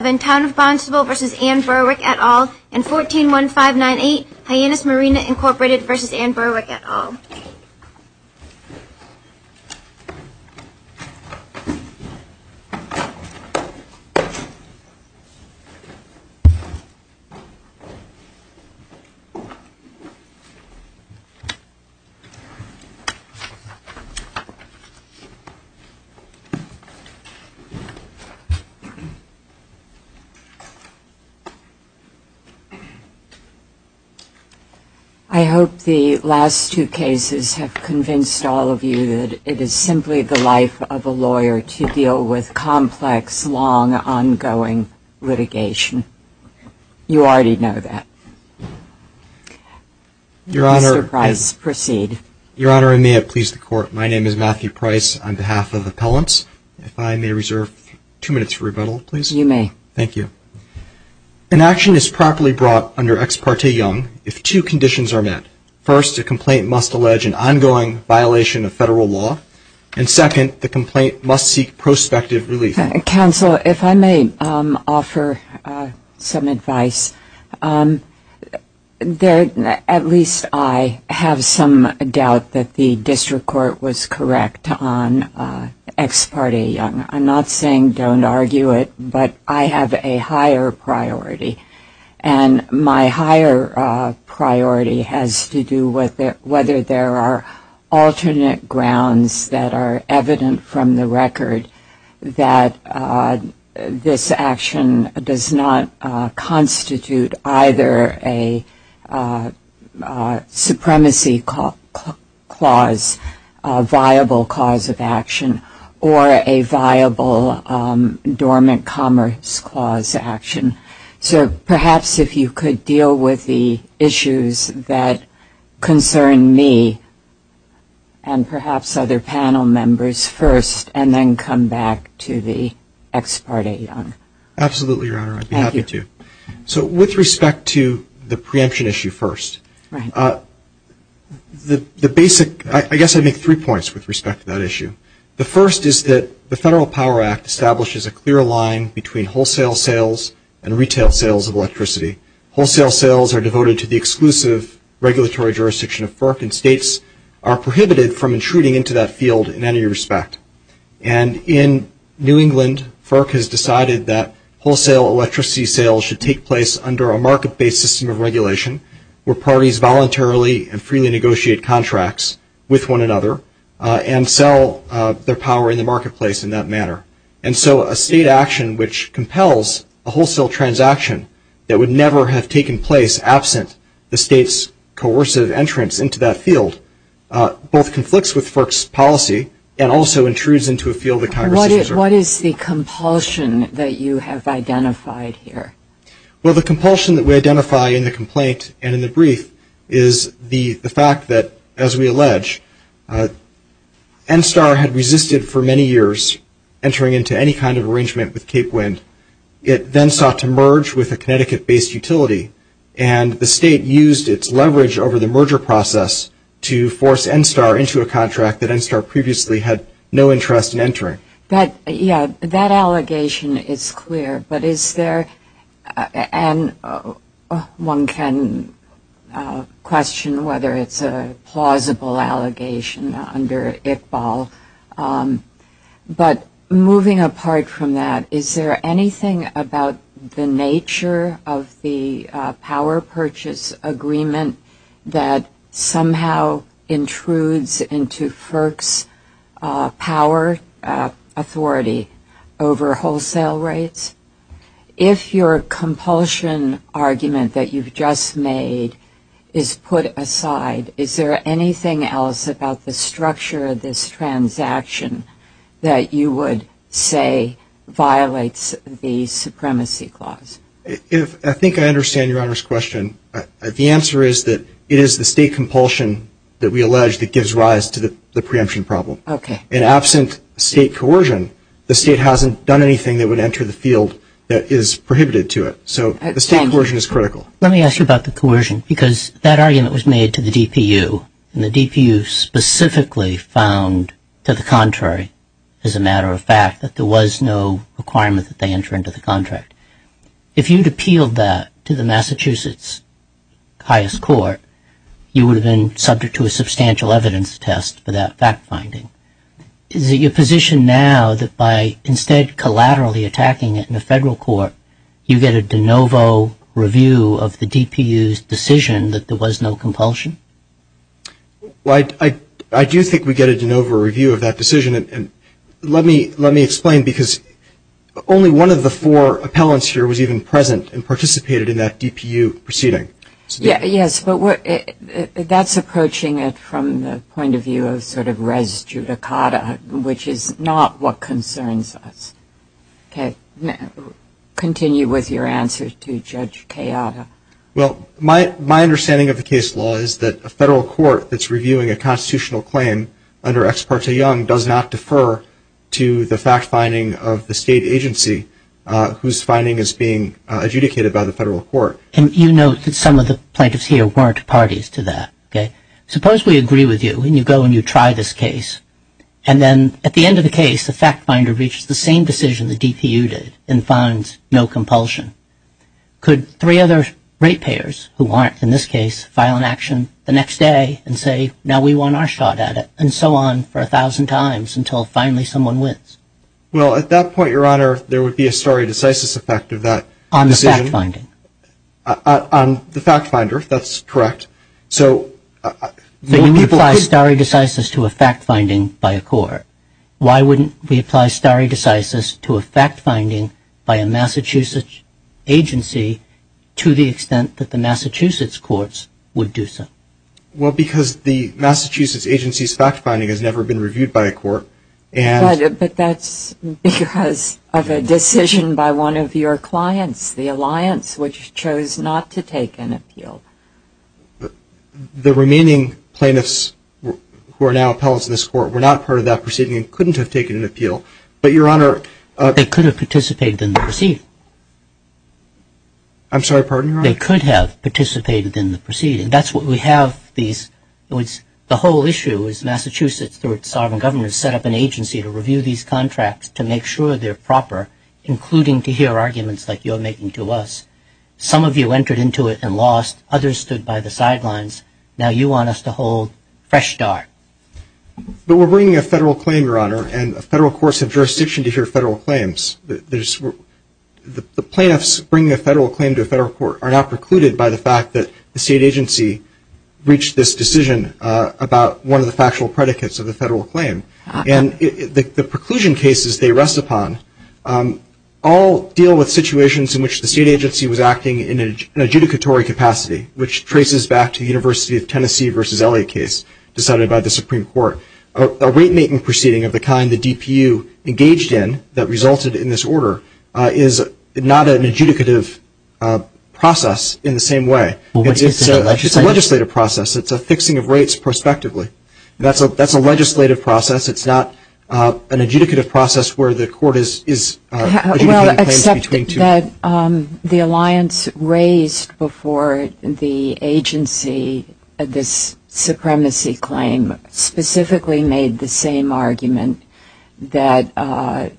et al., and 141598 Hyannis Marina Inc. v. Anne Berwick et al. I hope the last two cases have convinced all of you that it is simply the life of a lawyer to deal with complex, long, ongoing litigation. You already know that. Mr. Price, proceed. Your Honor, I may have pleased the Court. My name is Matthew Price on behalf of Appellants. If I may reserve two minutes for rebuttal, please. You may. Thank you. An action is properly brought under ex parte young if two conditions are met. First, a complaint must allege an ongoing violation of Federal law, and second, the complaint must seek prospective relief. Counsel, if I may offer some advice. At least I have some doubt that the District Court was correct on ex parte young. I'm not saying don't argue it, but I have a higher priority, and my higher priority has to do with whether there are alternate grounds that are evident from the record that this action does not constitute either a supremacy clause, a viable clause of action, or a viable dormant commerce clause of action. So perhaps if you could deal with the issues that concern me and perhaps other panel members first, and then come back to the ex parte young. Absolutely, Your Honor. I'd be happy to. Thank you. So with respect to the preemption issue first, the basic, I guess I make three points with respect to the preemption issue. The first is that the Federal Power Act establishes a clear line between wholesale sales and retail sales of electricity. Wholesale sales are devoted to the exclusive regulatory jurisdiction of FERC, and states are prohibited from intruding into that field in any respect. And in New England, FERC has decided that wholesale electricity sales should take place under a market-based system of regulation where parties voluntarily and freely negotiate contracts with one another and sell their power in the marketplace in that manner. And so a state action which compels a wholesale transaction that would never have taken place absent the state's coercive entrance into that field both conflicts with FERC's policy and also intrudes into a field that Congress is reserved. What is the compulsion that you have identified here? Well, the compulsion that we identify in the complaint and in the fact that, as we allege, NSTAR had resisted for many years entering into any kind of arrangement with Cape Wind. It then sought to merge with a Connecticut-based utility, and the state used its leverage over the merger process to force NSTAR into a contract that NSTAR previously had no interest in entering. But, yeah, that allegation is clear, but is there anything about the nature of the power purchase agreement that somehow intrudes into FERC's power authority over wholesale rates? If you're complaining about the power purchase agreement and you're saying that the state compulsion argument that you've just made is put aside, is there anything else about the structure of this transaction that you would say violates the supremacy clause? I think I understand Your Honor's question. The answer is that it is the state compulsion that we allege that gives rise to the preemption problem. In absent state coercion, the state hasn't done anything that would enter the field that is prohibited to it. So the state coercion is critical. Let me ask you about the coercion, because that argument was made to the DPU, and the DPU specifically found, to the contrary, as a matter of fact, that there was no requirement that they enter into the contract. If you'd appealed that to the Massachusetts Highest Court, you would have been subject to a substantial evidence test for that fact-finding. Is it your position now that by instead collaterally attacking it in the federal court, you get a de novo review of the DPU's decision that there was no compulsion? Well, I do think we get a de novo review of that decision. Let me explain, because only one of the four appellants here was even present and participated in that DPU proceeding. Yes, but that's approaching it from the point of view of sort of res judicata, which is not what concerns us. Continue with your answer to Judge Kayada. Well, my understanding of the case law is that a federal court that's reviewing a constitutional claim under Ex Parte Young does not defer to the fact-finding of the state agency whose finding is being adjudicated by the federal court. And you note that some of the plaintiffs here weren't parties to that, okay? Suppose we agree with you, and you go and you try this case, and then at the end of the case, the fact-finder reaches the same decision the DPU did and finds no compulsion. Could three other rate payers, who aren't in this case, file an action the next day and say, now we won our shot at it, and so on for a thousand times until finally someone wins? Well, at that point, Your Honor, there would be a stare decisis effect of that decision. On the fact-finding? On the fact-finder, if that's correct. So when we apply stare decisis to a fact-finding by a court, why wouldn't we apply stare decisis to a fact-finding by a Massachusetts agency to the extent that the Massachusetts courts would do so? Well, because the Massachusetts agency's fact-finding has never been reviewed by a court. But that's because of a decision by one of your clients, the Alliance, which chose not to take an appeal. The remaining plaintiffs who are now appellants in this court were not part of that proceeding and couldn't have taken an appeal. But, Your Honor... They could have participated in the proceeding. I'm sorry, pardon me, Your Honor? They could have participated in the proceeding. That's what we have these... The whole issue is Massachusetts, through its sovereign government, has set up an agency to review these contracts to make sure they're proper, including to hear arguments like you're making to us. Some of you entered into it and lost. Others stood by the sidelines. Now you want us to hold fresh dark. But we're bringing a federal claim, Your Honor, and federal courts have jurisdiction to hear federal claims. The plaintiffs bringing a federal claim to a federal court are not the plaintiffs. They're the plaintiffs. The state agency reached this decision about one of the factual predicates of the federal claim. And the preclusion cases they rest upon all deal with situations in which the state agency was acting in an adjudicatory capacity, which traces back to the University of Tennessee v. Elliott case decided by the Supreme Court. A rate-making proceeding of the kind the DPU engaged in that resulted in this order is not an adjudicative process in the same way. It's a legislative process. It's a fixing of rates prospectively. That's a legislative process. It's not an adjudicative process where the court is adjudicating claims between two... Well, except that the alliance raised before the agency this supremacy claim specifically made the same argument that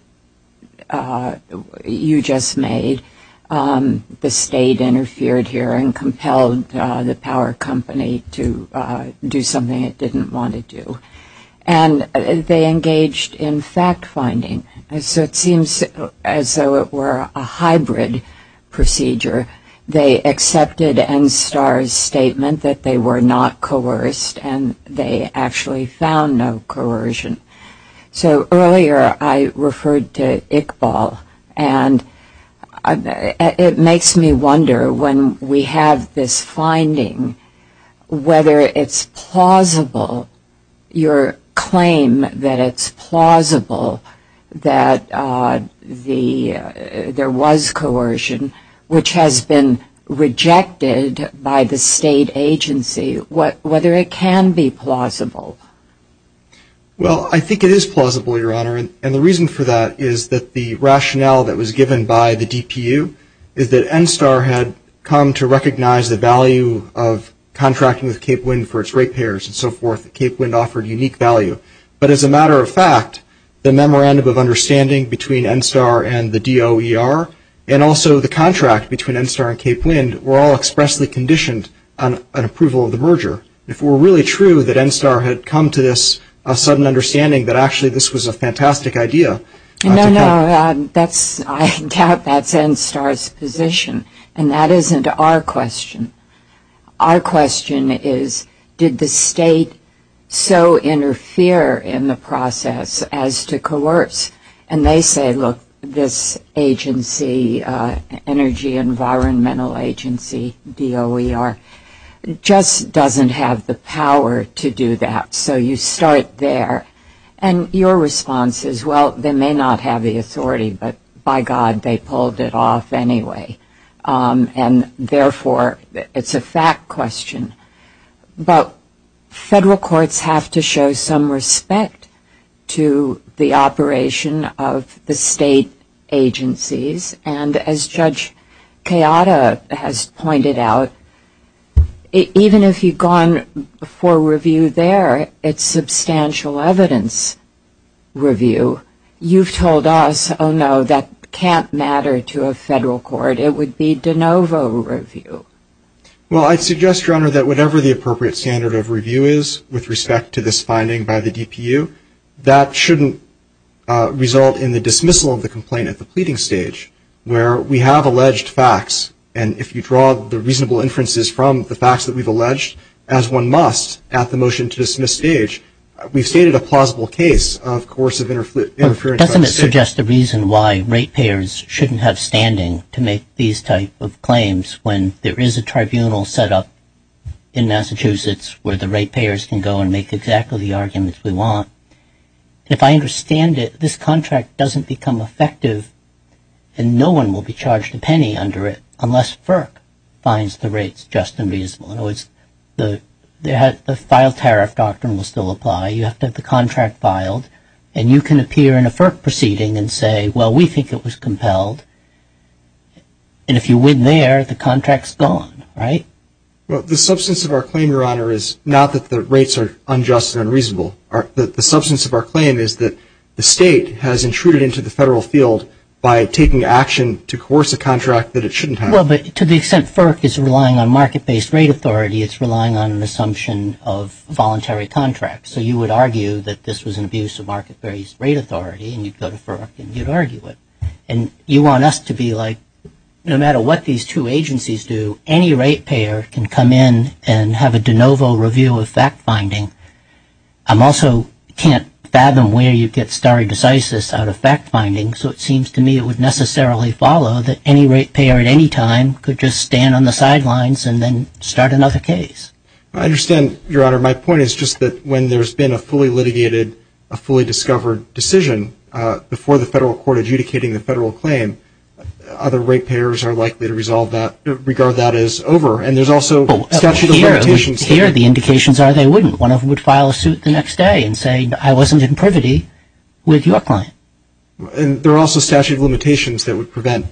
you just made. The state interfered here and compelled the power company to do something it didn't want to do. And they engaged in fact-finding. So it seems as though it were a hybrid procedure. They accepted NSTAR's statement that they were not coerced, and they actually found no coercion. So earlier I referred to Iqbal, and it makes me wonder when we have this finding, whether it's plausible, your claim that it's plausible that there was coercion, which has been rejected by the state agency, and that whether it can be plausible. Well, I think it is plausible, your Honor, and the reason for that is that the rationale that was given by the DPU is that NSTAR had come to recognize the value of contracting with Cape Wind for its rate payers and so forth. Cape Wind offered unique value. But as a matter of fact, the memorandum of understanding between NSTAR and the DOER, and also the contract between NSTAR and Cape Wind, were all expressly conditioned on approval of the merger. If it were really true that NSTAR had come to this sudden understanding that actually this was a fantastic idea- No, no. I doubt that's NSTAR's position. And that isn't our question. Our question is, did the state so interfere in the process as to coerce? And they say, look, this agency, Energy Environmental Agency, DOER, just doesn't have the power to do that, so you start there. And your response is, well, they may not have the authority, but by God, they pulled it off anyway. And therefore, it's a fact question. But federal courts have to show some respect to the operation of the state agencies. And as Judge Kayada has pointed out, even if you've gone for review there, it's substantial evidence review. You've told us, oh, no, that can't matter to a federal court. It would be de novo review. Well, I'd suggest, Your Honor, that whatever the appropriate standard of review is with respect to this finding by the DPU, that shouldn't result in the dismissal of the complaint at the pleading stage, where we have alleged facts. And if you draw the reasonable inferences from the facts that we've alleged, as one must at the motion-to-dismiss stage, we've stated a plausible case of coercive interference by the state. But doesn't it suggest the reason why ratepayers shouldn't have standing to make these type of claims when there is a tribunal set up in Massachusetts where the ratepayers can go and make exactly the arguments we want? If I understand it, this contract doesn't become effective, and no one will be charged a penny under it unless FERC finds the rates just and reasonable. In other words, the file tariff doctrine will still apply. You have to have the contract filed. And you can appear in a FERC proceeding and say, well, we think it was compelled. And if you win there, the contract's gone, right? Well, the substance of our claim, Your Honor, is not that the rates are unjust and unreasonable. The substance of our claim is that the state has intruded into the federal field by taking action to coerce a contract that it shouldn't have. Well, but to the extent FERC is relying on market-based rate authority, it's relying on an assumption of voluntary contract. So you would argue that this was an abuse of market-based rate authority, and you'd go to FERC and you'd argue it. And you want us to be like, no matter what these two agencies do, any rate payer can come in and have a de novo review of fact-finding. I also can't fathom where you'd get stare decisis out of fact-finding. So it seems to me it would necessarily follow that any rate payer at any time could just stand on the sidelines and then start another case. I understand, Your Honor. My point is just that when there's been a fully litigated, a fully discovered decision before the federal court adjudicating the federal claim, other rate payers are likely to resolve that, regard that as over. And there's also statute of limitations. Here, the indications are they wouldn't. One of them would file a suit the next day and say, I wasn't in privity with your client. And there are also statute of limitations that would prevent,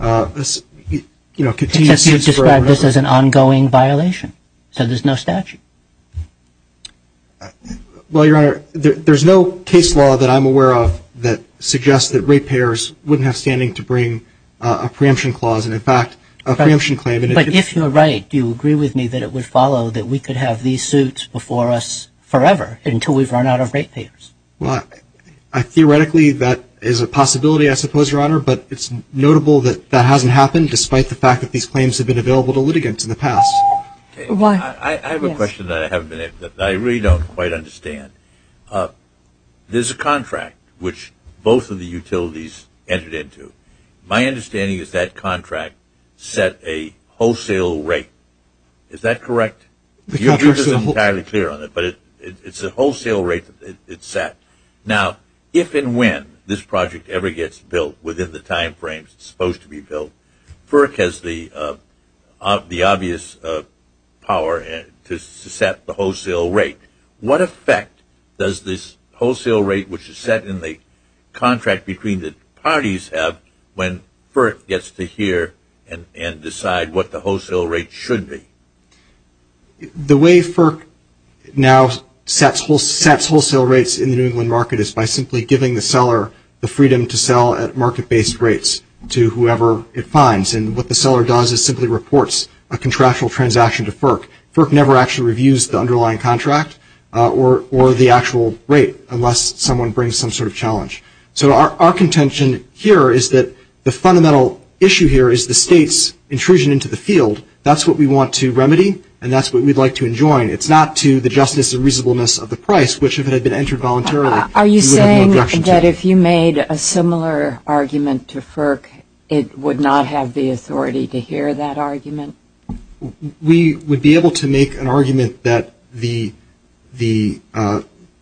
you know, continued suits for over and over. Because you've described this as an ongoing violation. So there's no statute. Well, Your Honor, there's no case law that I'm aware of that suggests that rate payers wouldn't have standing to bring a preemption clause and, in fact, a preemption claim. But if you're right, do you agree with me that it would follow that we could have these suits before us forever, until we've run out of rate payers? Well, theoretically, that is a possibility, I suppose, Your Honor. But it's notable that that hasn't happened, despite the fact that these claims have been available to litigants in the past. I have a question that I haven't been able to answer, that I really don't quite understand. There's a contract which both of the utilities entered into. My understanding is that contract set a wholesale rate. Is that correct? The contract is not entirely clear on it, but it's a wholesale rate that it set. Now, if and when this project ever gets built within the time frames it's supposed to be power to set the wholesale rate, what effect does this wholesale rate, which is set in the contract between the parties, have when FERC gets to hear and decide what the wholesale rate should be? The way FERC now sets wholesale rates in the New England market is by simply giving the seller the freedom to sell at market-based rates to whoever it finds. And what the seller does is simply reports a contractual transaction to FERC. FERC never actually reviews the underlying contract or the actual rate, unless someone brings some sort of challenge. So our contention here is that the fundamental issue here is the State's intrusion into the field. That's what we want to remedy, and that's what we'd like to enjoin. It's not to the justice and reasonableness of the price, which, if it had been entered voluntarily, we would have no objection to. Are you saying that if you made a similar argument to FERC, it would not have the authority to hear that argument? We would be able to make an argument that the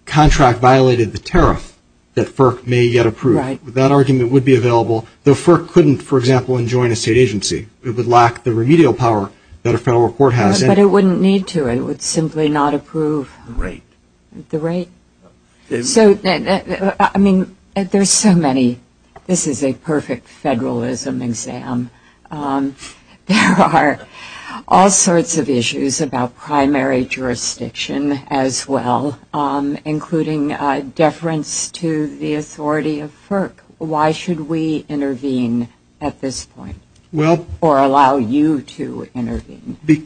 contract violated the tariff that FERC may yet approve. That argument would be available, though FERC couldn't, for example, enjoin a State agency. It would lack the remedial power that a federal court has. But it wouldn't need to. It would simply not approve the rate. This is a perfect federalism exam. There are all sorts of issues about primary jurisdiction as well, including deference to the authority of FERC. Why should we intervene at this point in time?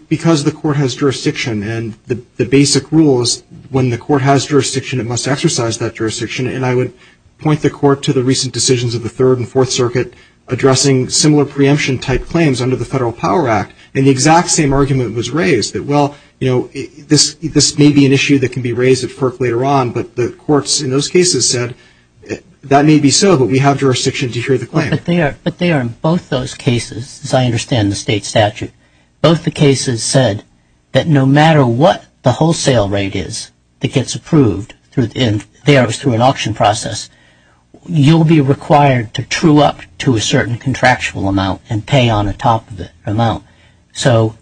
Because the court has jurisdiction, and the basic rule is when the court has jurisdiction, it must exercise that jurisdiction. And I would point the court to the recent decisions of the Third and Fourth Circuit addressing similar preemption-type claims under the Federal Power Act. And the exact same argument was raised, that, well, you know, this may be an issue that can be raised at FERC later on, but the courts in those cases said, that may be so, but we have jurisdiction to hear the claim. But they are in both those cases, as I understand the State statute, both the cases said that no matter what the wholesale rate is that gets approved, and there it was through an auction process, you'll be required to true up to a certain contractual amount and pay on the top of that amount. So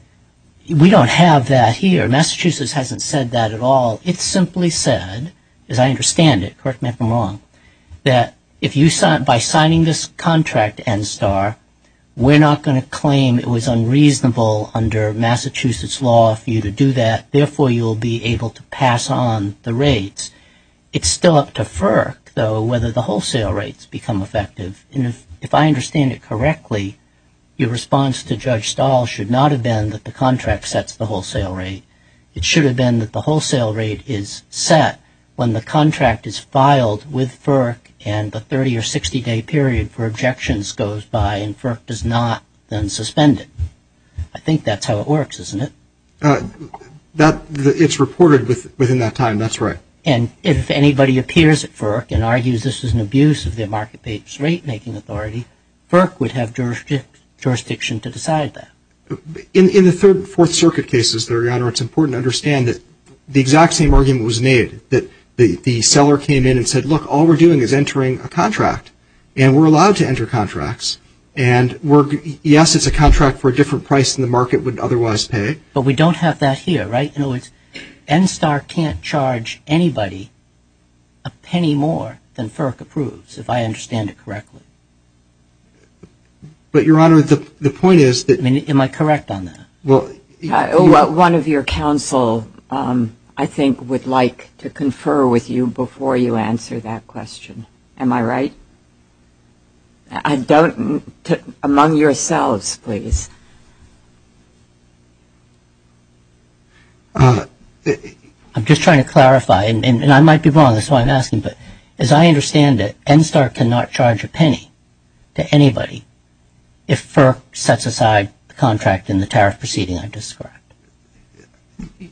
we don't have that here. Massachusetts hasn't said that at all. It simply said, as I understand it, correct me if I'm wrong, that by signing this contract, NSTAR, we're not going to claim it was unreasonable under Massachusetts law for you to do that. Therefore, you'll be able to pass on the rates. It's still up to FERC, though, whether the wholesale rates become effective. And if I understand it correctly, your response to Judge Stahl should not have been that the contract sets the wholesale rate. It should have been that the wholesale rate is set when the contract is filed with NSTAR, and the objections goes by, and FERC does not then suspend it. I think that's how it works, isn't it? It's reported within that time. That's right. And if anybody appears at FERC and argues this is an abuse of their market papers rate making authority, FERC would have jurisdiction to decide that. In the Third and Fourth Circuit cases, Your Honor, it's important to understand that the exact same argument was made, that the seller came in and said, look, all we're doing is And yes, it's a contract for a different price than the market would otherwise pay. But we don't have that here, right? In other words, NSTAR can't charge anybody a penny more than FERC approves, if I understand it correctly. But Your Honor, the point is that I mean, am I correct on that? One of your counsel, I think, would like to confer with you before you answer that question. Am I right? I don't, among yourselves, please. I'm just trying to clarify, and I might be wrong, that's why I'm asking, but as I understand it, NSTAR cannot charge a penny to anybody if FERC sets aside the contract in the tariff proceeding I've described.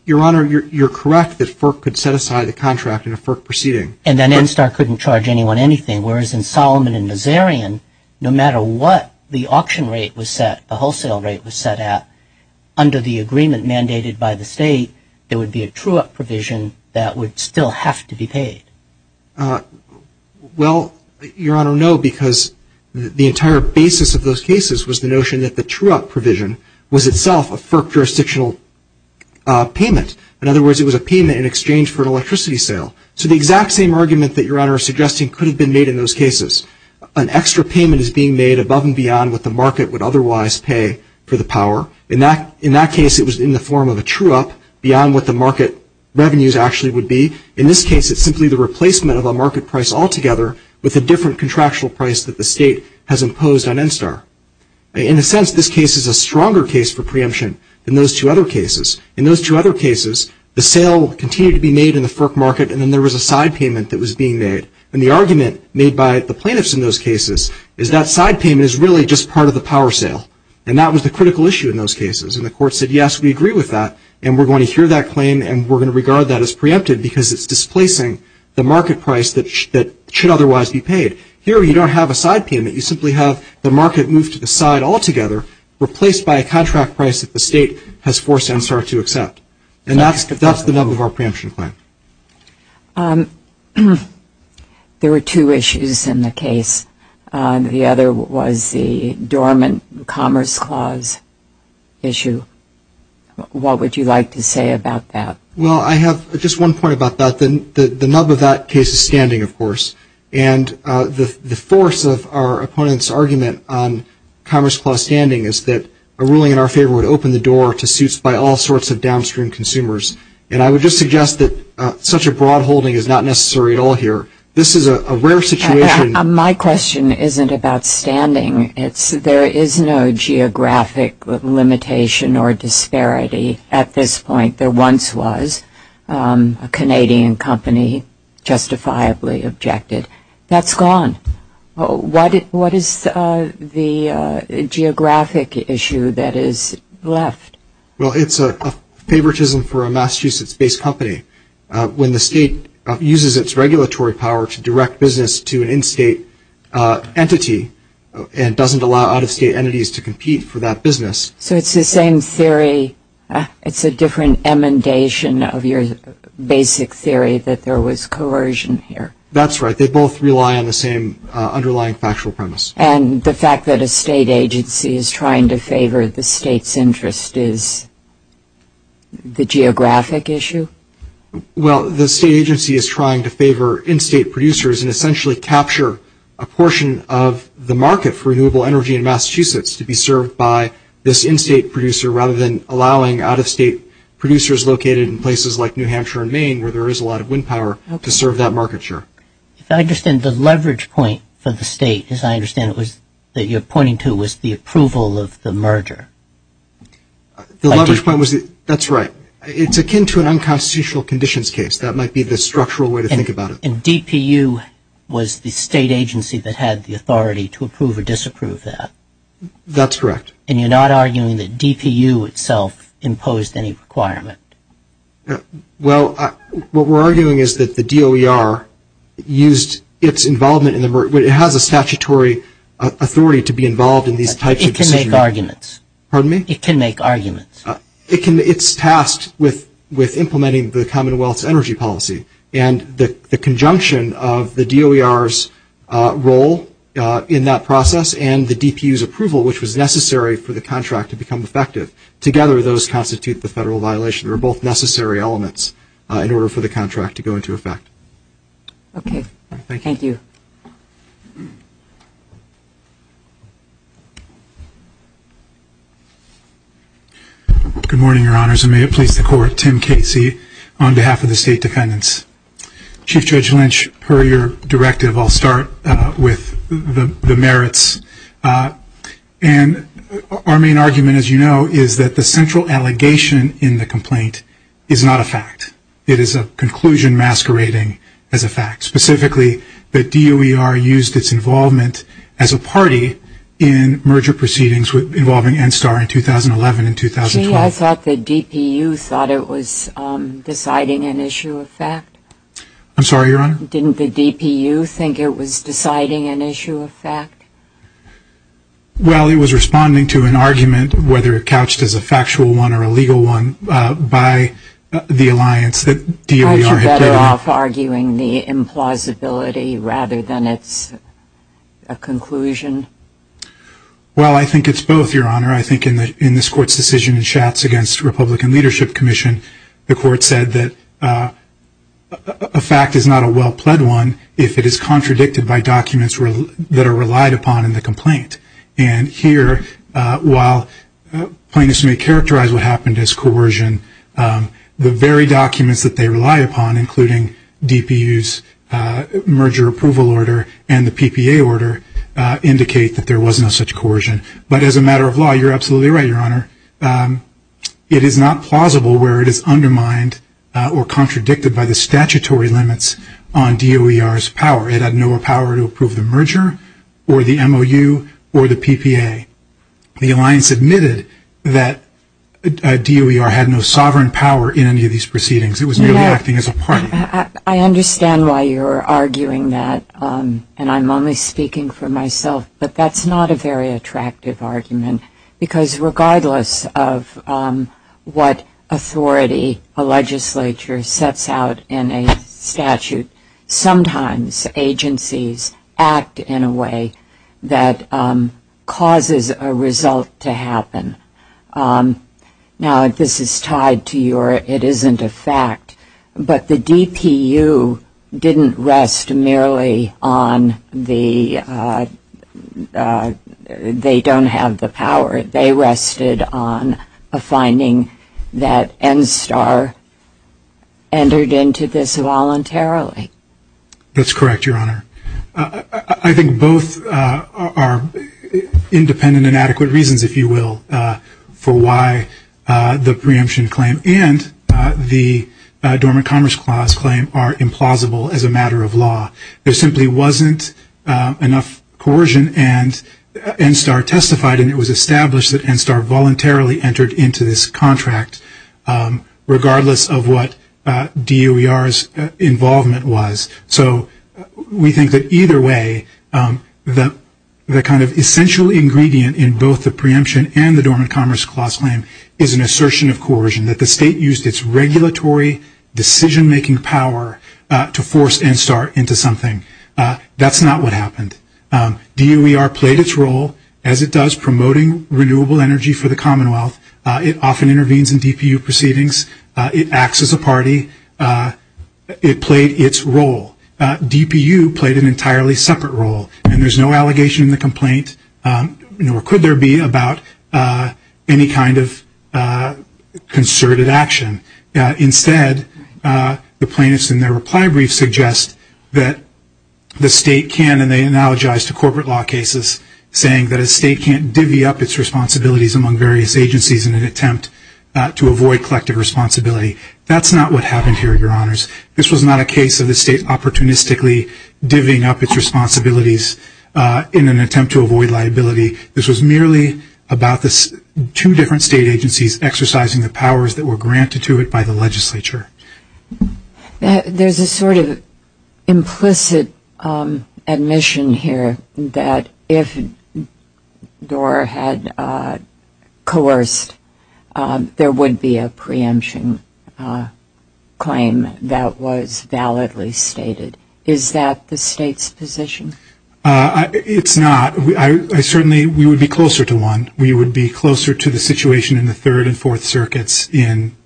Your Honor, you're correct that FERC could set aside the contract in a FERC proceeding. And then NSTAR couldn't charge anyone anything, whereas in Solomon and Nazarian, no matter what the auction rate was set, the wholesale rate was set at, under the agreement mandated by the State, there would be a true-up provision that would still have to be paid. Well, Your Honor, no, because the entire basis of those cases was the notion that the true-up provision was itself a FERC jurisdictional payment. In other words, it was a payment in exchange for an electricity sale. So the exact same argument that Your Honor is suggesting could have been made in those cases. An extra payment is being made above and beyond what the market would otherwise pay for the power. In that case, it was in the form of a true-up beyond what the market revenues actually would be. In this case, it's simply the replacement of a market price altogether with a different contractual price that the State has imposed on NSTAR. In a sense, this case is a stronger case for preemption than those two other cases. In those two other cases, the sale continued to be made in the FERC market and then there was a side payment that was being made. And the argument made by the plaintiffs in those cases is that side payment is really just part of the power sale. And that was the critical issue in those cases. And the Court said, yes, we agree with that and we're going to hear that claim and we're going to regard that as preempted because it's displacing the market price that should otherwise be paid. Here, you don't have a side payment. You simply have the market move to the side altogether replaced by a contract price that the State has forced NSTAR to accept. And that's the nub of our preemption claim. There were two issues in the case. The other was the dormant Commerce Clause issue. What would you like to say about that? Well, I have just one point about that. The nub of that case is standing, of course. And the force of our opponent's argument on Commerce Clause standing is that a ruling in our favor would open the door to suits by all sorts of downstream consumers. And I would just suggest that such a broad holding is not necessary at all here. This is a rare situation. My question isn't about standing. There is no geographic limitation or disparity at this point. There once was. A Canadian company justifiably objected. That's gone. What is the geographic issue that is left? Well, it's a favoritism for a Massachusetts-based company. When the State uses its regulatory power to direct business to an in-State entity and doesn't allow out-of-State entities to compete for that business. So it's the same theory. It's a different emendation of your basic theory that there was coercion here. That's right. They both rely on the same underlying factual premise. And the fact that a State agency is trying to favor the State's interest is the geographic issue? Well, the State agency is trying to favor in-State producers and essentially capture a portion of the market for renewable energy in Massachusetts to be served by this in-State producer rather than allowing out-of-State producers located in places like New Hampshire and Maine where there is a lot of wind power to serve that market share. I understand the leverage point for the State, as I understand it, that you're pointing to was the approval of the merger. The leverage point was, that's right, it's akin to an unconstitutional conditions case. That might be the structural way to think about it. And DPU was the State agency that had the authority to approve or disapprove that. That's correct. And you're not arguing that DPU itself imposed any requirement? Well, what we're arguing is that the DOER used its involvement in the merger, it has a statutory authority to be involved in these types of decisions. It can make arguments. Pardon me? It can make arguments. It's tasked with implementing the Commonwealth's energy policy. And the conjunction of the DOER's role in that process and the DPU's approval, which was necessary for the contract to become effective, together those constitute the federal violation. They're both necessary elements in order for the contract to go into effect. Okay. Thank you. Good morning, Your Honors, and may it please the Court, Tim Casey on behalf of the State Defendants. Chief Judge Lynch, per your directive, I'll start with the merits. And our main argument, as you know, is that the central allegation in the complaint is not a fact. It is a conclusion masquerading as a fact. Specifically, the DOER used its involvement as a party in merger proceedings involving NSTAR in 2011 and 2012. Gee, I thought the DPU thought it was deciding an issue of fact. I'm sorry, Your Honor? Didn't the DPU think it was deciding an issue of fact? Well, it was responding to an argument, whether couched as a factual one or a legal one, by the alliance that DOER had taken. Aren't you better off arguing the implausibility rather than its conclusion? Well, I think it's both, Your Honor. I think in this Court's decision in the Republican Leadership Commission, the Court said that a fact is not a well-pled one if it is contradicted by documents that are relied upon in the complaint. And here, while plaintiffs may characterize what happened as coercion, the very documents that they rely upon, including DPU's merger approval order and the PPA order, indicate that there was no such coercion. But as a matter of law, you're absolutely right, Your Honor. It is not plausible where it is undermined or contradicted by the statutory limits on DOER's power. It had no power to approve the merger or the MOU or the PPA. The alliance admitted that DOER had no sovereign power in any of these proceedings. It was merely acting as a party. I understand why you're arguing that, and I'm only speaking for myself, but that's not a very attractive argument. Because regardless of what authority a legislature sets out in a statute, sometimes agencies act in a way that causes a result to happen. Now, this is tied to your, it isn't a fact, but the DPU didn't rest merely on the, they don't have the power. They rested on a finding that NSTAR entered into this voluntarily. That's correct, Your Honor. I think both are independent and adequate reasons, if you will, for why the preemption claim and the Dormant Commerce Clause claim are implausible as a matter of law. There simply wasn't enough coercion and NSTAR testified and it was established that NSTAR voluntarily entered into this contract regardless of what DOER's involvement was. So we think that either way the kind of essential ingredient in both the preemption and the Dormant Commerce Clause claim is an assertion of coercion, that the state used its regulatory decision-making power to force NSTAR into something. That's not what happened. DOER played its role as it does promoting renewable energy for the Commonwealth. It often intervenes in DPU proceedings. It acts as a party. It played its role. DPU played an entirely separate role and there's no allegation in the complaint, nor could there be, about any kind of concerted action. Instead, the plaintiffs in their reply brief suggest that the state can, and they analogize to corporate law cases, saying that a state can't divvy up its responsibilities among various agencies in an attempt to avoid collective responsibility. That's not what happened here, Your Honors. This was not a case of the state opportunistically divvying up its responsibilities in an attempt to avoid liability. This was merely about the two different state agencies exercising the powers that were There's a sort of implicit admission here that if DOER had coerced there would be a preemption claim that was validly stated. Is that the state's position? It's not. Certainly we would be closer to one. We would be closer to the situation in the Third and Fourth Circuits in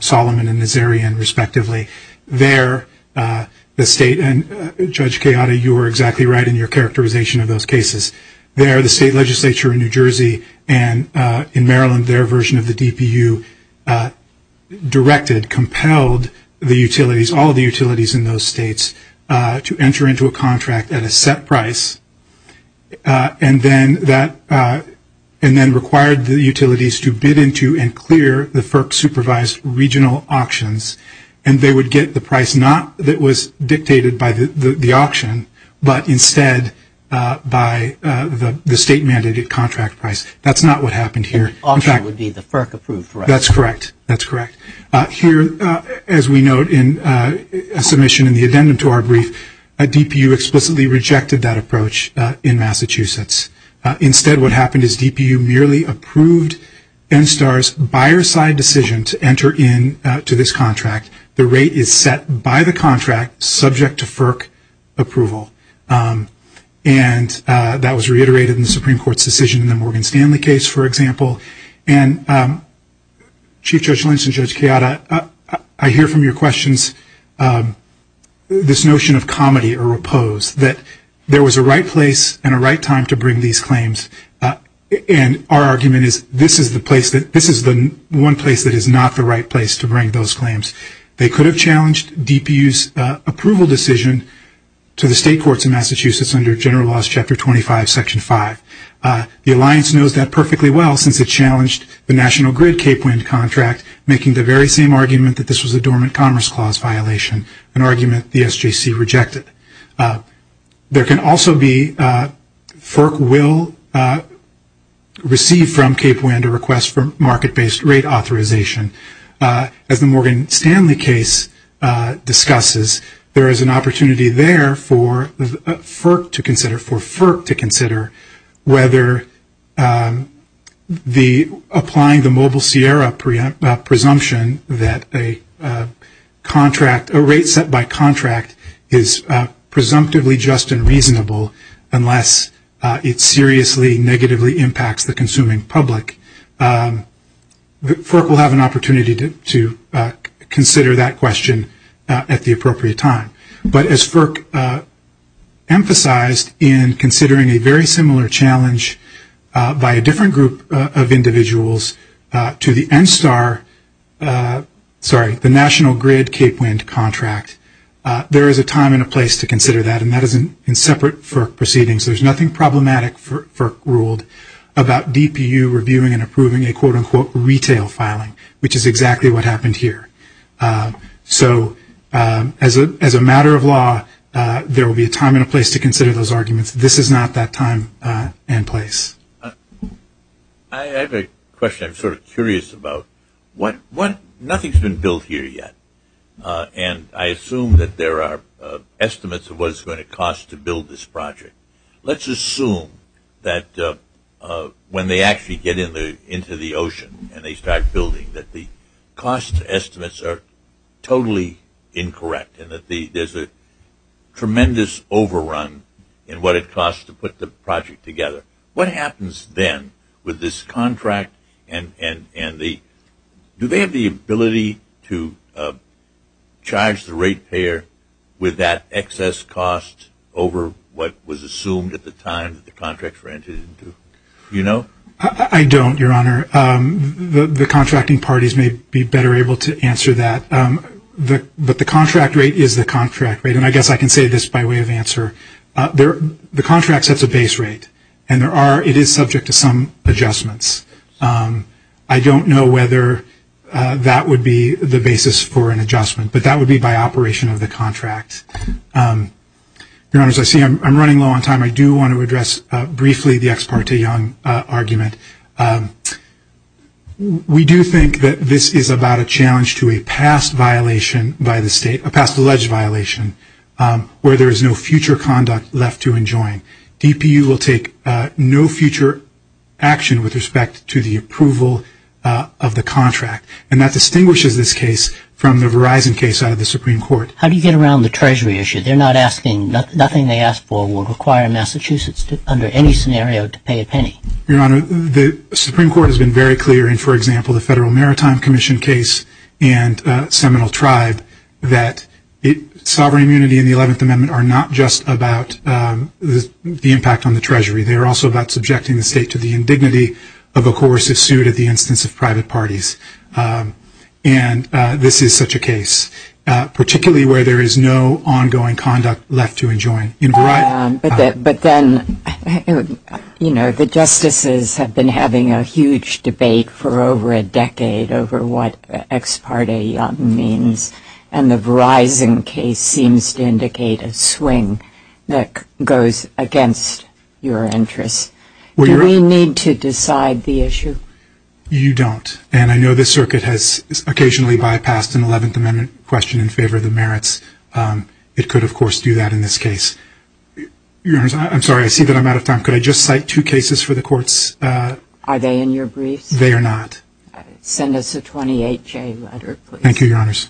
Solomon and Nazarian, respectively. There, the state, and Judge Keada, you were exactly right in your characterization of those cases. There, the state legislature in New Jersey and in Maryland, their version of the DPU directed, compelled the utilities, all the utilities in those states to enter into a contract at a set price and then that and then required the utilities to bid into and clear the FERC-supervised regional auctions and they would get the price not that was dictated by the auction but instead by the state-mandated contract price. That's not what happened here. The auction would be the FERC-approved price. That's correct. Here, as we note in a submission in the addendum to our brief, DPU explicitly rejected that approach in Massachusetts. Instead, what happened is DPU merely approved NSTAR's buyer-side decision to enter into this contract. The rate is set by the contract, subject to FERC approval. And that was reiterated in the Supreme Court's decision in the Morgan Stanley case, for example. And Chief Judge Lynch and Judge Keada, I hear from your questions this notion of comedy or repose, that there was a right place and a right time to bring these claims. And our argument is this is the place that, this is the one place that is not the right place to bring those claims. They could have challenged DPU's approval decision to the state courts in Massachusetts under General Laws Chapter 25, Section 5. The Alliance knows that perfectly well since it challenged the National Grid-Cape Wind contract, making the very same argument that this was a dormant commerce clause violation, an argument the SJC rejected. There can also be FERC will receive from Cape Wind a request for market-based rate authorization. As the Morgan Stanley case discusses, there is an opportunity there for FERC to consider, for FERC to consider whether the applying the Mobile Sierra presumption that a rate set by contract is presumptively just and reasonable unless it seriously negatively impacts the consuming public. FERC will have an opportunity to consider that question at the appropriate time. But as FERC emphasized in considering a very similar challenge by a different group of individuals to the NSTAR, sorry, the National Grid-Cape Wind contract, there is a time and a place to consider that and that is in separate FERC proceedings. There's nothing problematic for FERC ruled about DPU reviewing and approving a quote-unquote retail filing, which is exactly what happened here. So as a matter of law, there will be a time and a place to consider those arguments. This is not that time and place. I have a question. I'm sort of curious about what, nothing's been built here yet. And I assume that there are estimates of what it's going to cost to build this project. Let's assume that when they actually get into the ocean and they start building that the cost estimates are totally incorrect and that there's a tremendous overrun in what it costs to put the project together. What happens then with this contract and the, do they have the ability to charge the rate payer with that excess cost over what was assumed at the time that the contracts were entered into? I don't, Your Honor. The contracting parties may be better able to answer that. But the contract rate is the contract rate, and I guess I can say this by way of answer. The contract sets a base rate and there are, it is subject to some adjustments. I don't know whether that would be the basis for an adjustment, but that would be by operation of the contract. Your Honor, as I see I'm running low on time, I do want to address briefly the ex parte Young argument. We do think that this is about a challenge to a past violation by the state, a past alleged violation, where there is no future conduct left to enjoin. DPU will take no future action with respect to the approval of the contract, and that distinguishes this case from the Verizon case out of the Supreme Court. How do you get around the Treasury issue? They're not asking, nothing they ask for will require Massachusetts under any scenario to pay a penny. Your Honor, the Supreme Court has been very clear in, for example, the Federal Maritime Commission case and Seminole Tribe, that sovereign immunity and the 11th Amendment are not just about the impact on the Treasury. They're also about subjecting the state to the indignity of a coercive suit at the instance of private parties. And this is such a case, particularly where there is no ongoing conduct left to enjoin. But then, you know, the justices have been having a huge debate for over a decade over what ex parte Young means, and the Verizon case seems to indicate a swing that goes against your interests. Do we need to decide the issue? You don't, and I know this circuit has occasionally bypassed an 11th Amendment question in favor of the merits. It could, of course, do that in this case. Your Honors, I'm sorry, I see that I'm out of time. Could I just cite two cases for the courts? Are they in your briefs? They are not. Send us a 28-J letter, please. Thank you, Your Honors.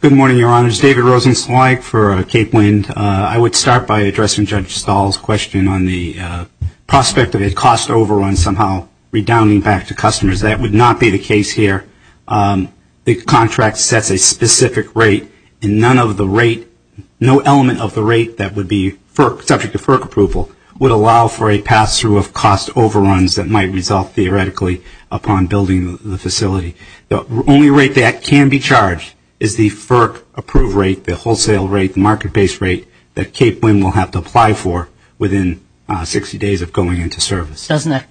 Good morning, Your Honors. David Rosenstein-Weig for Cape Wind. I would start by addressing Judge Stahl's question on the prospect of a cost overrun somehow redounding back to customers. That would not be the case here. The contract sets a specific rate, and none of the rate, no element of the rate that would be subject to FERC approval would allow for a pass-through of cost overruns that might result theoretically upon building the facility. The only rate that can be charged is the FERC approved rate, the wholesale rate, the market-based rate that Cape Wind will have to apply for within 60 days of going into service. Doesn't that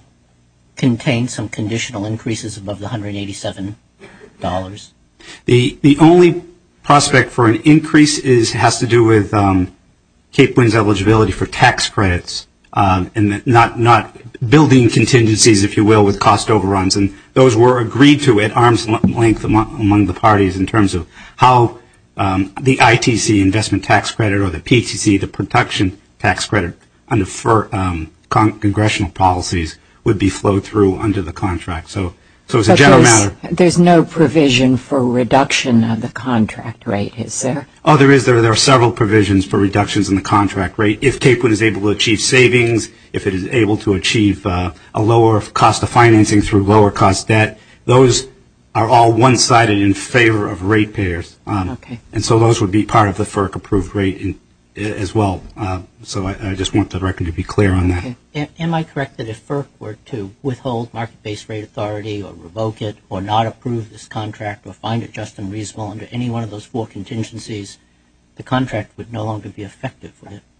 contain some conditional increases above the $187? The only prospect for an increase has to do with Cape Wind's eligibility for tax credits and not building contingencies, if you will, with cost overruns. And those were agreed to at arm's length among the parties in terms of how the ITC investment tax credit or the PTC, the production tax credit under congressional policies would be flowed through under the contract. So it's a general matter. But there's no provision for reduction of the contract rate, is there? Oh, there is. There are several provisions for reductions in the contract rate if Cape Wind is able to achieve savings, if it is able to achieve a lower cost of financing through lower cost debt. Those are all one-sided in favor of rate payers. And so those would be part of the FERC approved rate as well. So I just want the record to be clear on that. Am I correct that if FERC were to withhold market-based rate authority or revoke it or not approve this contract or find it just and reasonable under any one of those four contingencies, the contract would no longer be effective?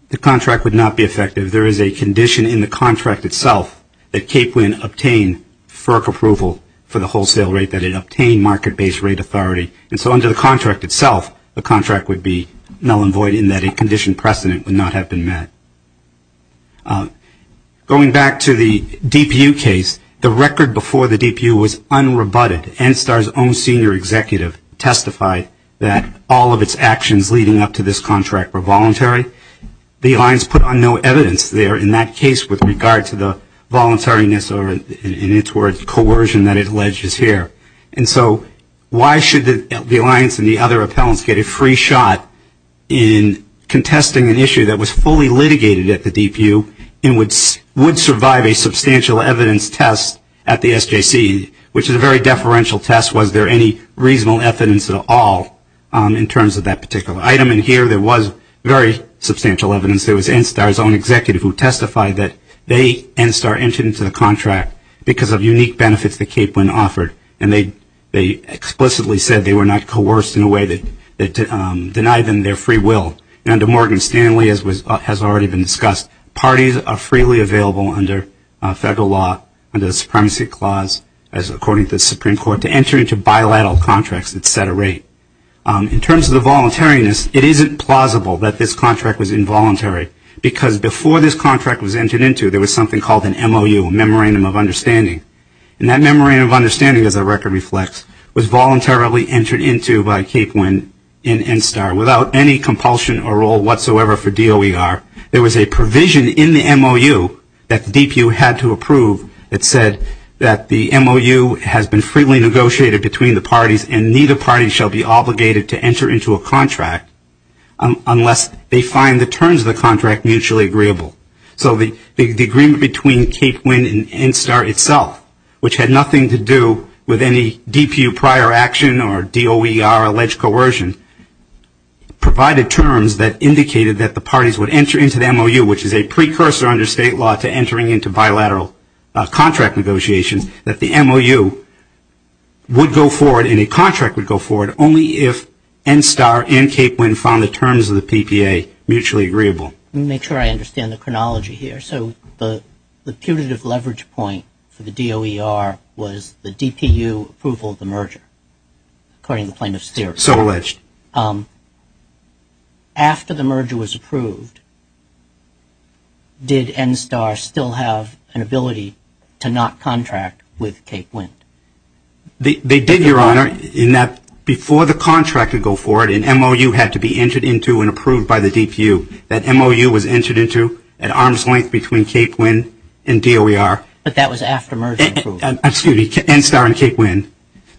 The contract would not be effective. There is a condition in the contract itself that Cape Wind obtain FERC approval for the wholesale rate, that it obtain market-based rate authority. And so under the contract itself, the contract would be null and void in that a condition precedent would not have been met. Going back to the DPU case, the record before the DPU was unrebutted. NSTAR's own senior executive testified that all of its actions leading up to this contract were voluntary. The alliance put on no evidence there in that case with regard to the voluntariness or in its words coercion that it alleges here. And so why should the alliance and the other appellants get a free shot in contesting an issue that was fully litigated at the DPU and would survive a substantial evidence test at the SJC, which is a very deferential test. Was there any reasonable evidence at all in terms of that particular item? There was very substantial evidence. There was NSTAR's own executive who testified that they, NSTAR, entered into the contract because of unique benefits that Cape Wind offered. And they explicitly said they were not coerced in a way that denied them their free will. And under Morgan Stanley, as has already been discussed, parties are freely available under federal law, under the Supremacy Clause, as according to the Supreme Court, to enter into bilateral contracts at set a rate. In terms of the voluntariness, it isn't plausible that this contract was involuntary because before this contract was entered into, there was something called an MOU, Memorandum of Understanding. And that Memorandum of Understanding, as our record reflects, was voluntarily entered into by Cape Wind in NSTAR without any compulsion or role whatsoever for DOER. There was a provision in the MOU that the DPU had to approve that said that the MOU has been freely negotiated between the parties and neither party shall be obligated to enter into a contract unless they find the terms of the contract mutually agreeable. So the agreement between Cape Wind and NSTAR itself, which had nothing to do with any DPU prior action or DOER alleged coercion, provided terms that indicated that the parties would enter into the MOU, which is a precursor under state law to entering into bilateral contract negotiations, that the MOU would go forward and a contract would go forward only if NSTAR and Cape Wind found the terms of the PPA mutually agreeable. Let me make sure I understand the chronology here. So the putative leverage point for the DOER was the DPU approval of the merger, according to plaintiff's theory. So alleged. After the merger was approved, did NSTAR still have an ability to not contract with Cape Wind? They did, Your Honor, in that before the contract would go forward and MOU had to be entered into and approved by the DPU, that MOU was entered into at arm's length between Cape Wind and DOER. But that was after merger was approved. Excuse me, NSTAR and Cape Wind.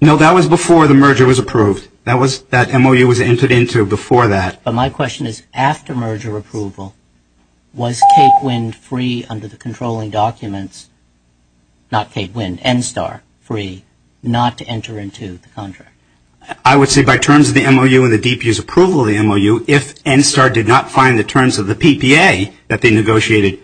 No, that was before the merger was approved. That MOU was entered into before that. But my question is after merger approval, was Cape Wind free under the controlling documents, not Cape Wind, NSTAR free not to enter into the contract? I would say by terms of the MOU and the DPU's approval of the MOU, if NSTAR did not find the terms of the PPA that they negotiated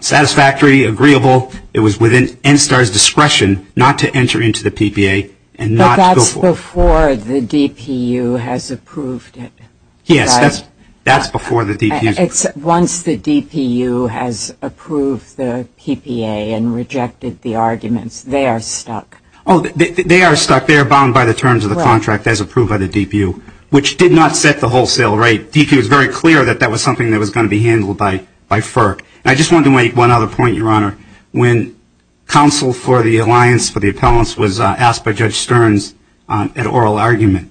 satisfactory, agreeable, it was within NSTAR's discretion not to enter into the PPA and not go forward. That's before the DPU has approved it, right? Yes, that's before the DPU. Once the DPU has approved the PPA and rejected the arguments, they are stuck. Oh, they are stuck. They are bound by the terms of the contract as approved by the DPU, which did not set the wholesale rate. DPU was very clear that that was something that was going to be handled by FERC. And I just wanted to make one other point, Your Honor. When counsel for the alliance for the appellants was asked by Judge Stearns at oral argument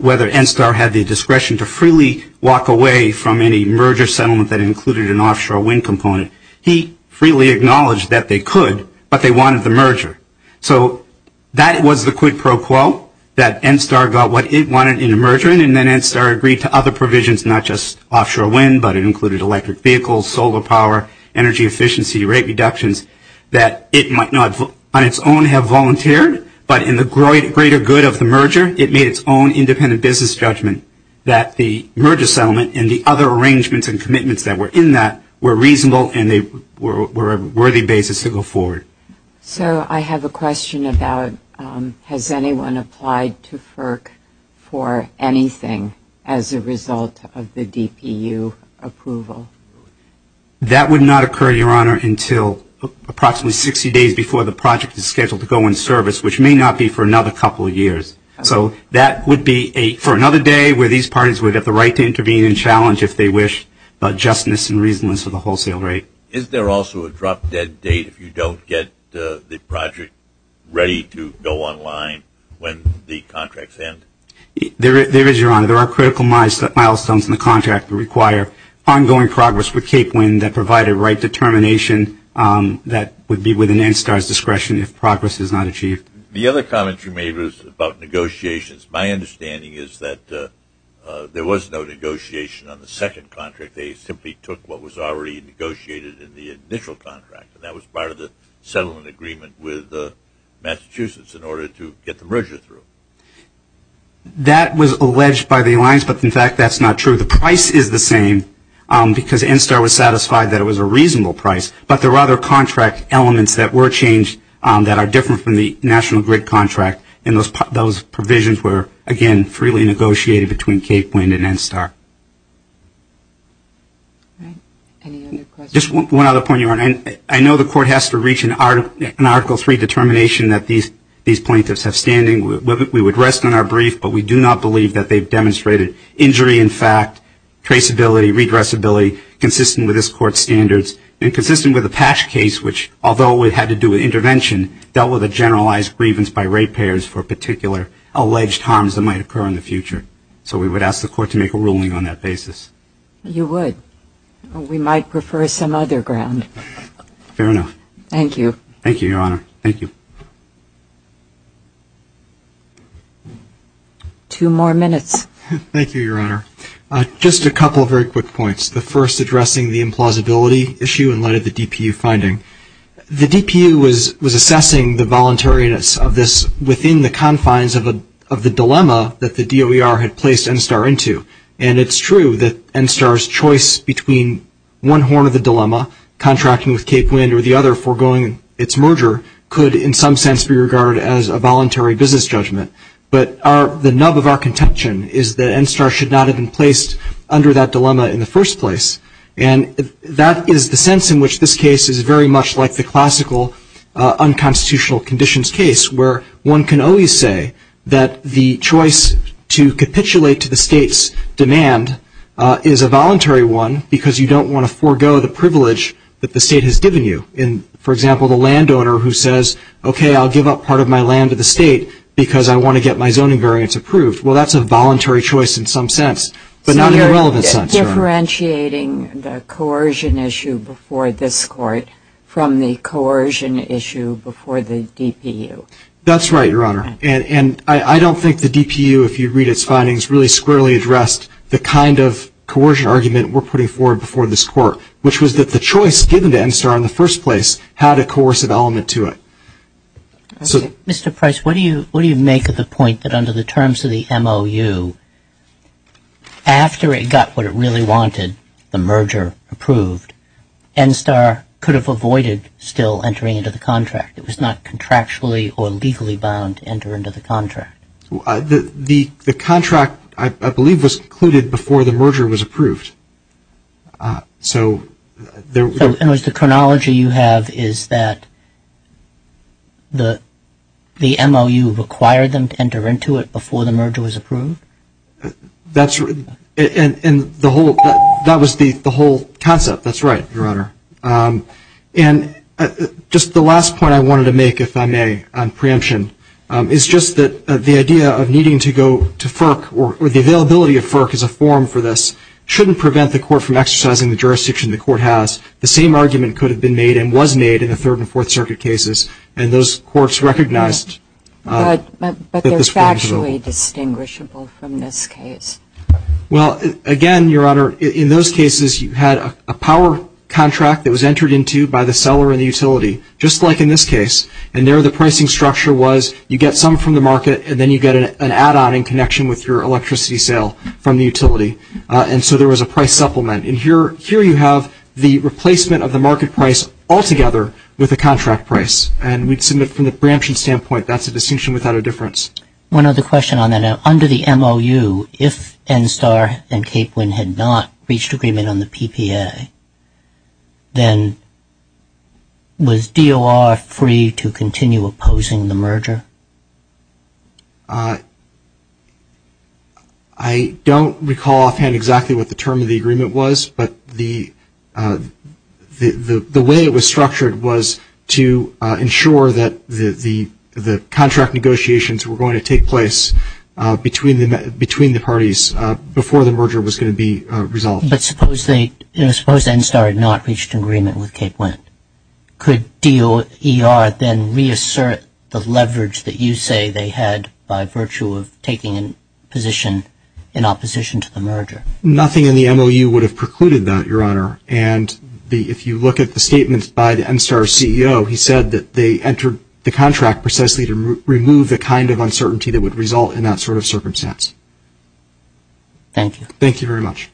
whether NSTAR had the discretion to freely walk away from any merger settlement that included an offshore wind component, he freely acknowledged that they could, but they wanted the merger. So that was the quid pro quo, that NSTAR got what it wanted in a merger, and then NSTAR agreed to other provisions, not just offshore wind, but it included electric vehicles, solar power, energy efficiency, rate reductions, that it might not on its own have volunteered, but in the greater good of the merger, it made its own independent business judgment that the merger settlement and the other arrangements and commitments that were in that were reasonable and they were a worthy basis to go forward. So I have a question about has anyone applied to FERC for anything as a result of the DPU approval? That would not occur, Your Honor, until approximately 60 days before the project is scheduled to go in service, which may not be for another couple of years. So that would be for another day where these parties would have the right to intervene and challenge if they wish about justness and reasonableness of the wholesale rate. Is there also a drop-dead date if you don't get the project ready to go online when the contracts end? There is, Your Honor. There are critical milestones in the contract that require ongoing progress with Cape Wind that provide a right determination that would be within NSTAR's discretion if progress is not achieved. The other comment you made was about negotiations. My understanding is that there was no negotiation on the second contract. They simply took what was already negotiated in the initial contract, and that was part of the settlement agreement with Massachusetts in order to get the merger through. That was alleged by the alliance, but, in fact, that's not true. The price is the same because NSTAR was satisfied that it was a reasonable price, but there are other contract elements that were changed that are different from the National Grid contract, and those provisions were, again, freely negotiated between Cape Wind and NSTAR. Any other questions? Just one other point, Your Honor. I know the Court has to reach an Article III determination that these plaintiffs have standing. We would rest on our brief, but we do not believe that they've demonstrated injury in fact, traceability, redressability consistent with this Court's standards and consistent with the Patch case, which, although it had to do with intervention, dealt with a generalized grievance by rate payers for particular alleged harms that might occur in the future. So we would ask the Court to make a ruling on that basis. You would. We might prefer some other ground. Fair enough. Thank you. Thank you, Your Honor. Thank you. Two more minutes. Thank you, Your Honor. Just a couple of very quick points. The first addressing the implausibility issue in light of the DPU finding. The DPU was assessing the voluntariness of this within the confines of the dilemma that the DOER had placed NSTAR into. And it's true that NSTAR's choice between one horn of the dilemma, contracting with Cape Wind or the other, foregoing its merger, could in some sense be regarded as a voluntary business judgment. But the nub of our contention is that NSTAR should not have been placed under that dilemma in the first place. And that is the sense in which this case is very much like the classical unconstitutional conditions case, where one can always say that the choice to capitulate to the State's demand is a voluntary one because you don't want to forego the privilege that the State has given you. For example, the landowner who says, okay, I'll give up part of my land to the State because I want to get my zoning variance approved. Well, that's a voluntary choice in some sense, but not in a relevant sense. So you're differentiating the coercion issue before this Court from the coercion issue before the DPU. That's right, Your Honor. And I don't think the DPU, if you read its findings, really squarely addressed the kind of coercion argument we're putting forward before this Court, which was that the choice given to NSTAR in the first place had a coercive element to it. Mr. Price, what do you make of the point that under the terms of the MOU, after it got what it really wanted, the merger approved, NSTAR could have avoided still entering into the contract. It was not contractually or legally bound to enter into the contract. The contract, I believe, was concluded before the merger was approved. So there was the chronology you have is that the MOU required them to enter into it before the merger was approved? That's right. And that was the whole concept. That's right, Your Honor. And just the last point I wanted to make, if I may, on preemption, is just that the idea of needing to go to FERC or the availability of FERC as a form for this shouldn't prevent the Court from exercising the jurisdiction the Court has. The same argument could have been made and was made in the Third and Fourth Circuit cases, and those courts recognized that this wasn't true. But they're factually distinguishable from this case. Well, again, Your Honor, in those cases, you had a power contract that was entered into by the seller in the utility, just like in this case, and there the pricing structure was you get some from the market and then you get an add-on in connection with your electricity sale from the utility. And so there was a price supplement. And here you have the replacement of the market price altogether with the contract price. And we'd submit from the preemption standpoint that's a distinction without a difference. One other question on that. Under the MOU, if NSTAR and Capewind had not reached agreement on the PPA, then was DOR free to continue opposing the merger? I don't recall offhand exactly what the term of the agreement was, but the way it was structured was to ensure that the contract negotiations were going to take place between the parties before the merger was going to be resolved. But suppose NSTAR had not reached agreement with Capewind. Could DOR then reassert the leverage that you say they had by virtue of taking a position in opposition to the merger? Nothing in the MOU would have precluded that, Your Honor. And if you look at the statements by the NSTAR CEO, he said that they entered the contract precisely to remove the kind of uncertainty that would result in that sort of circumstance. Thank you. Thank you very much.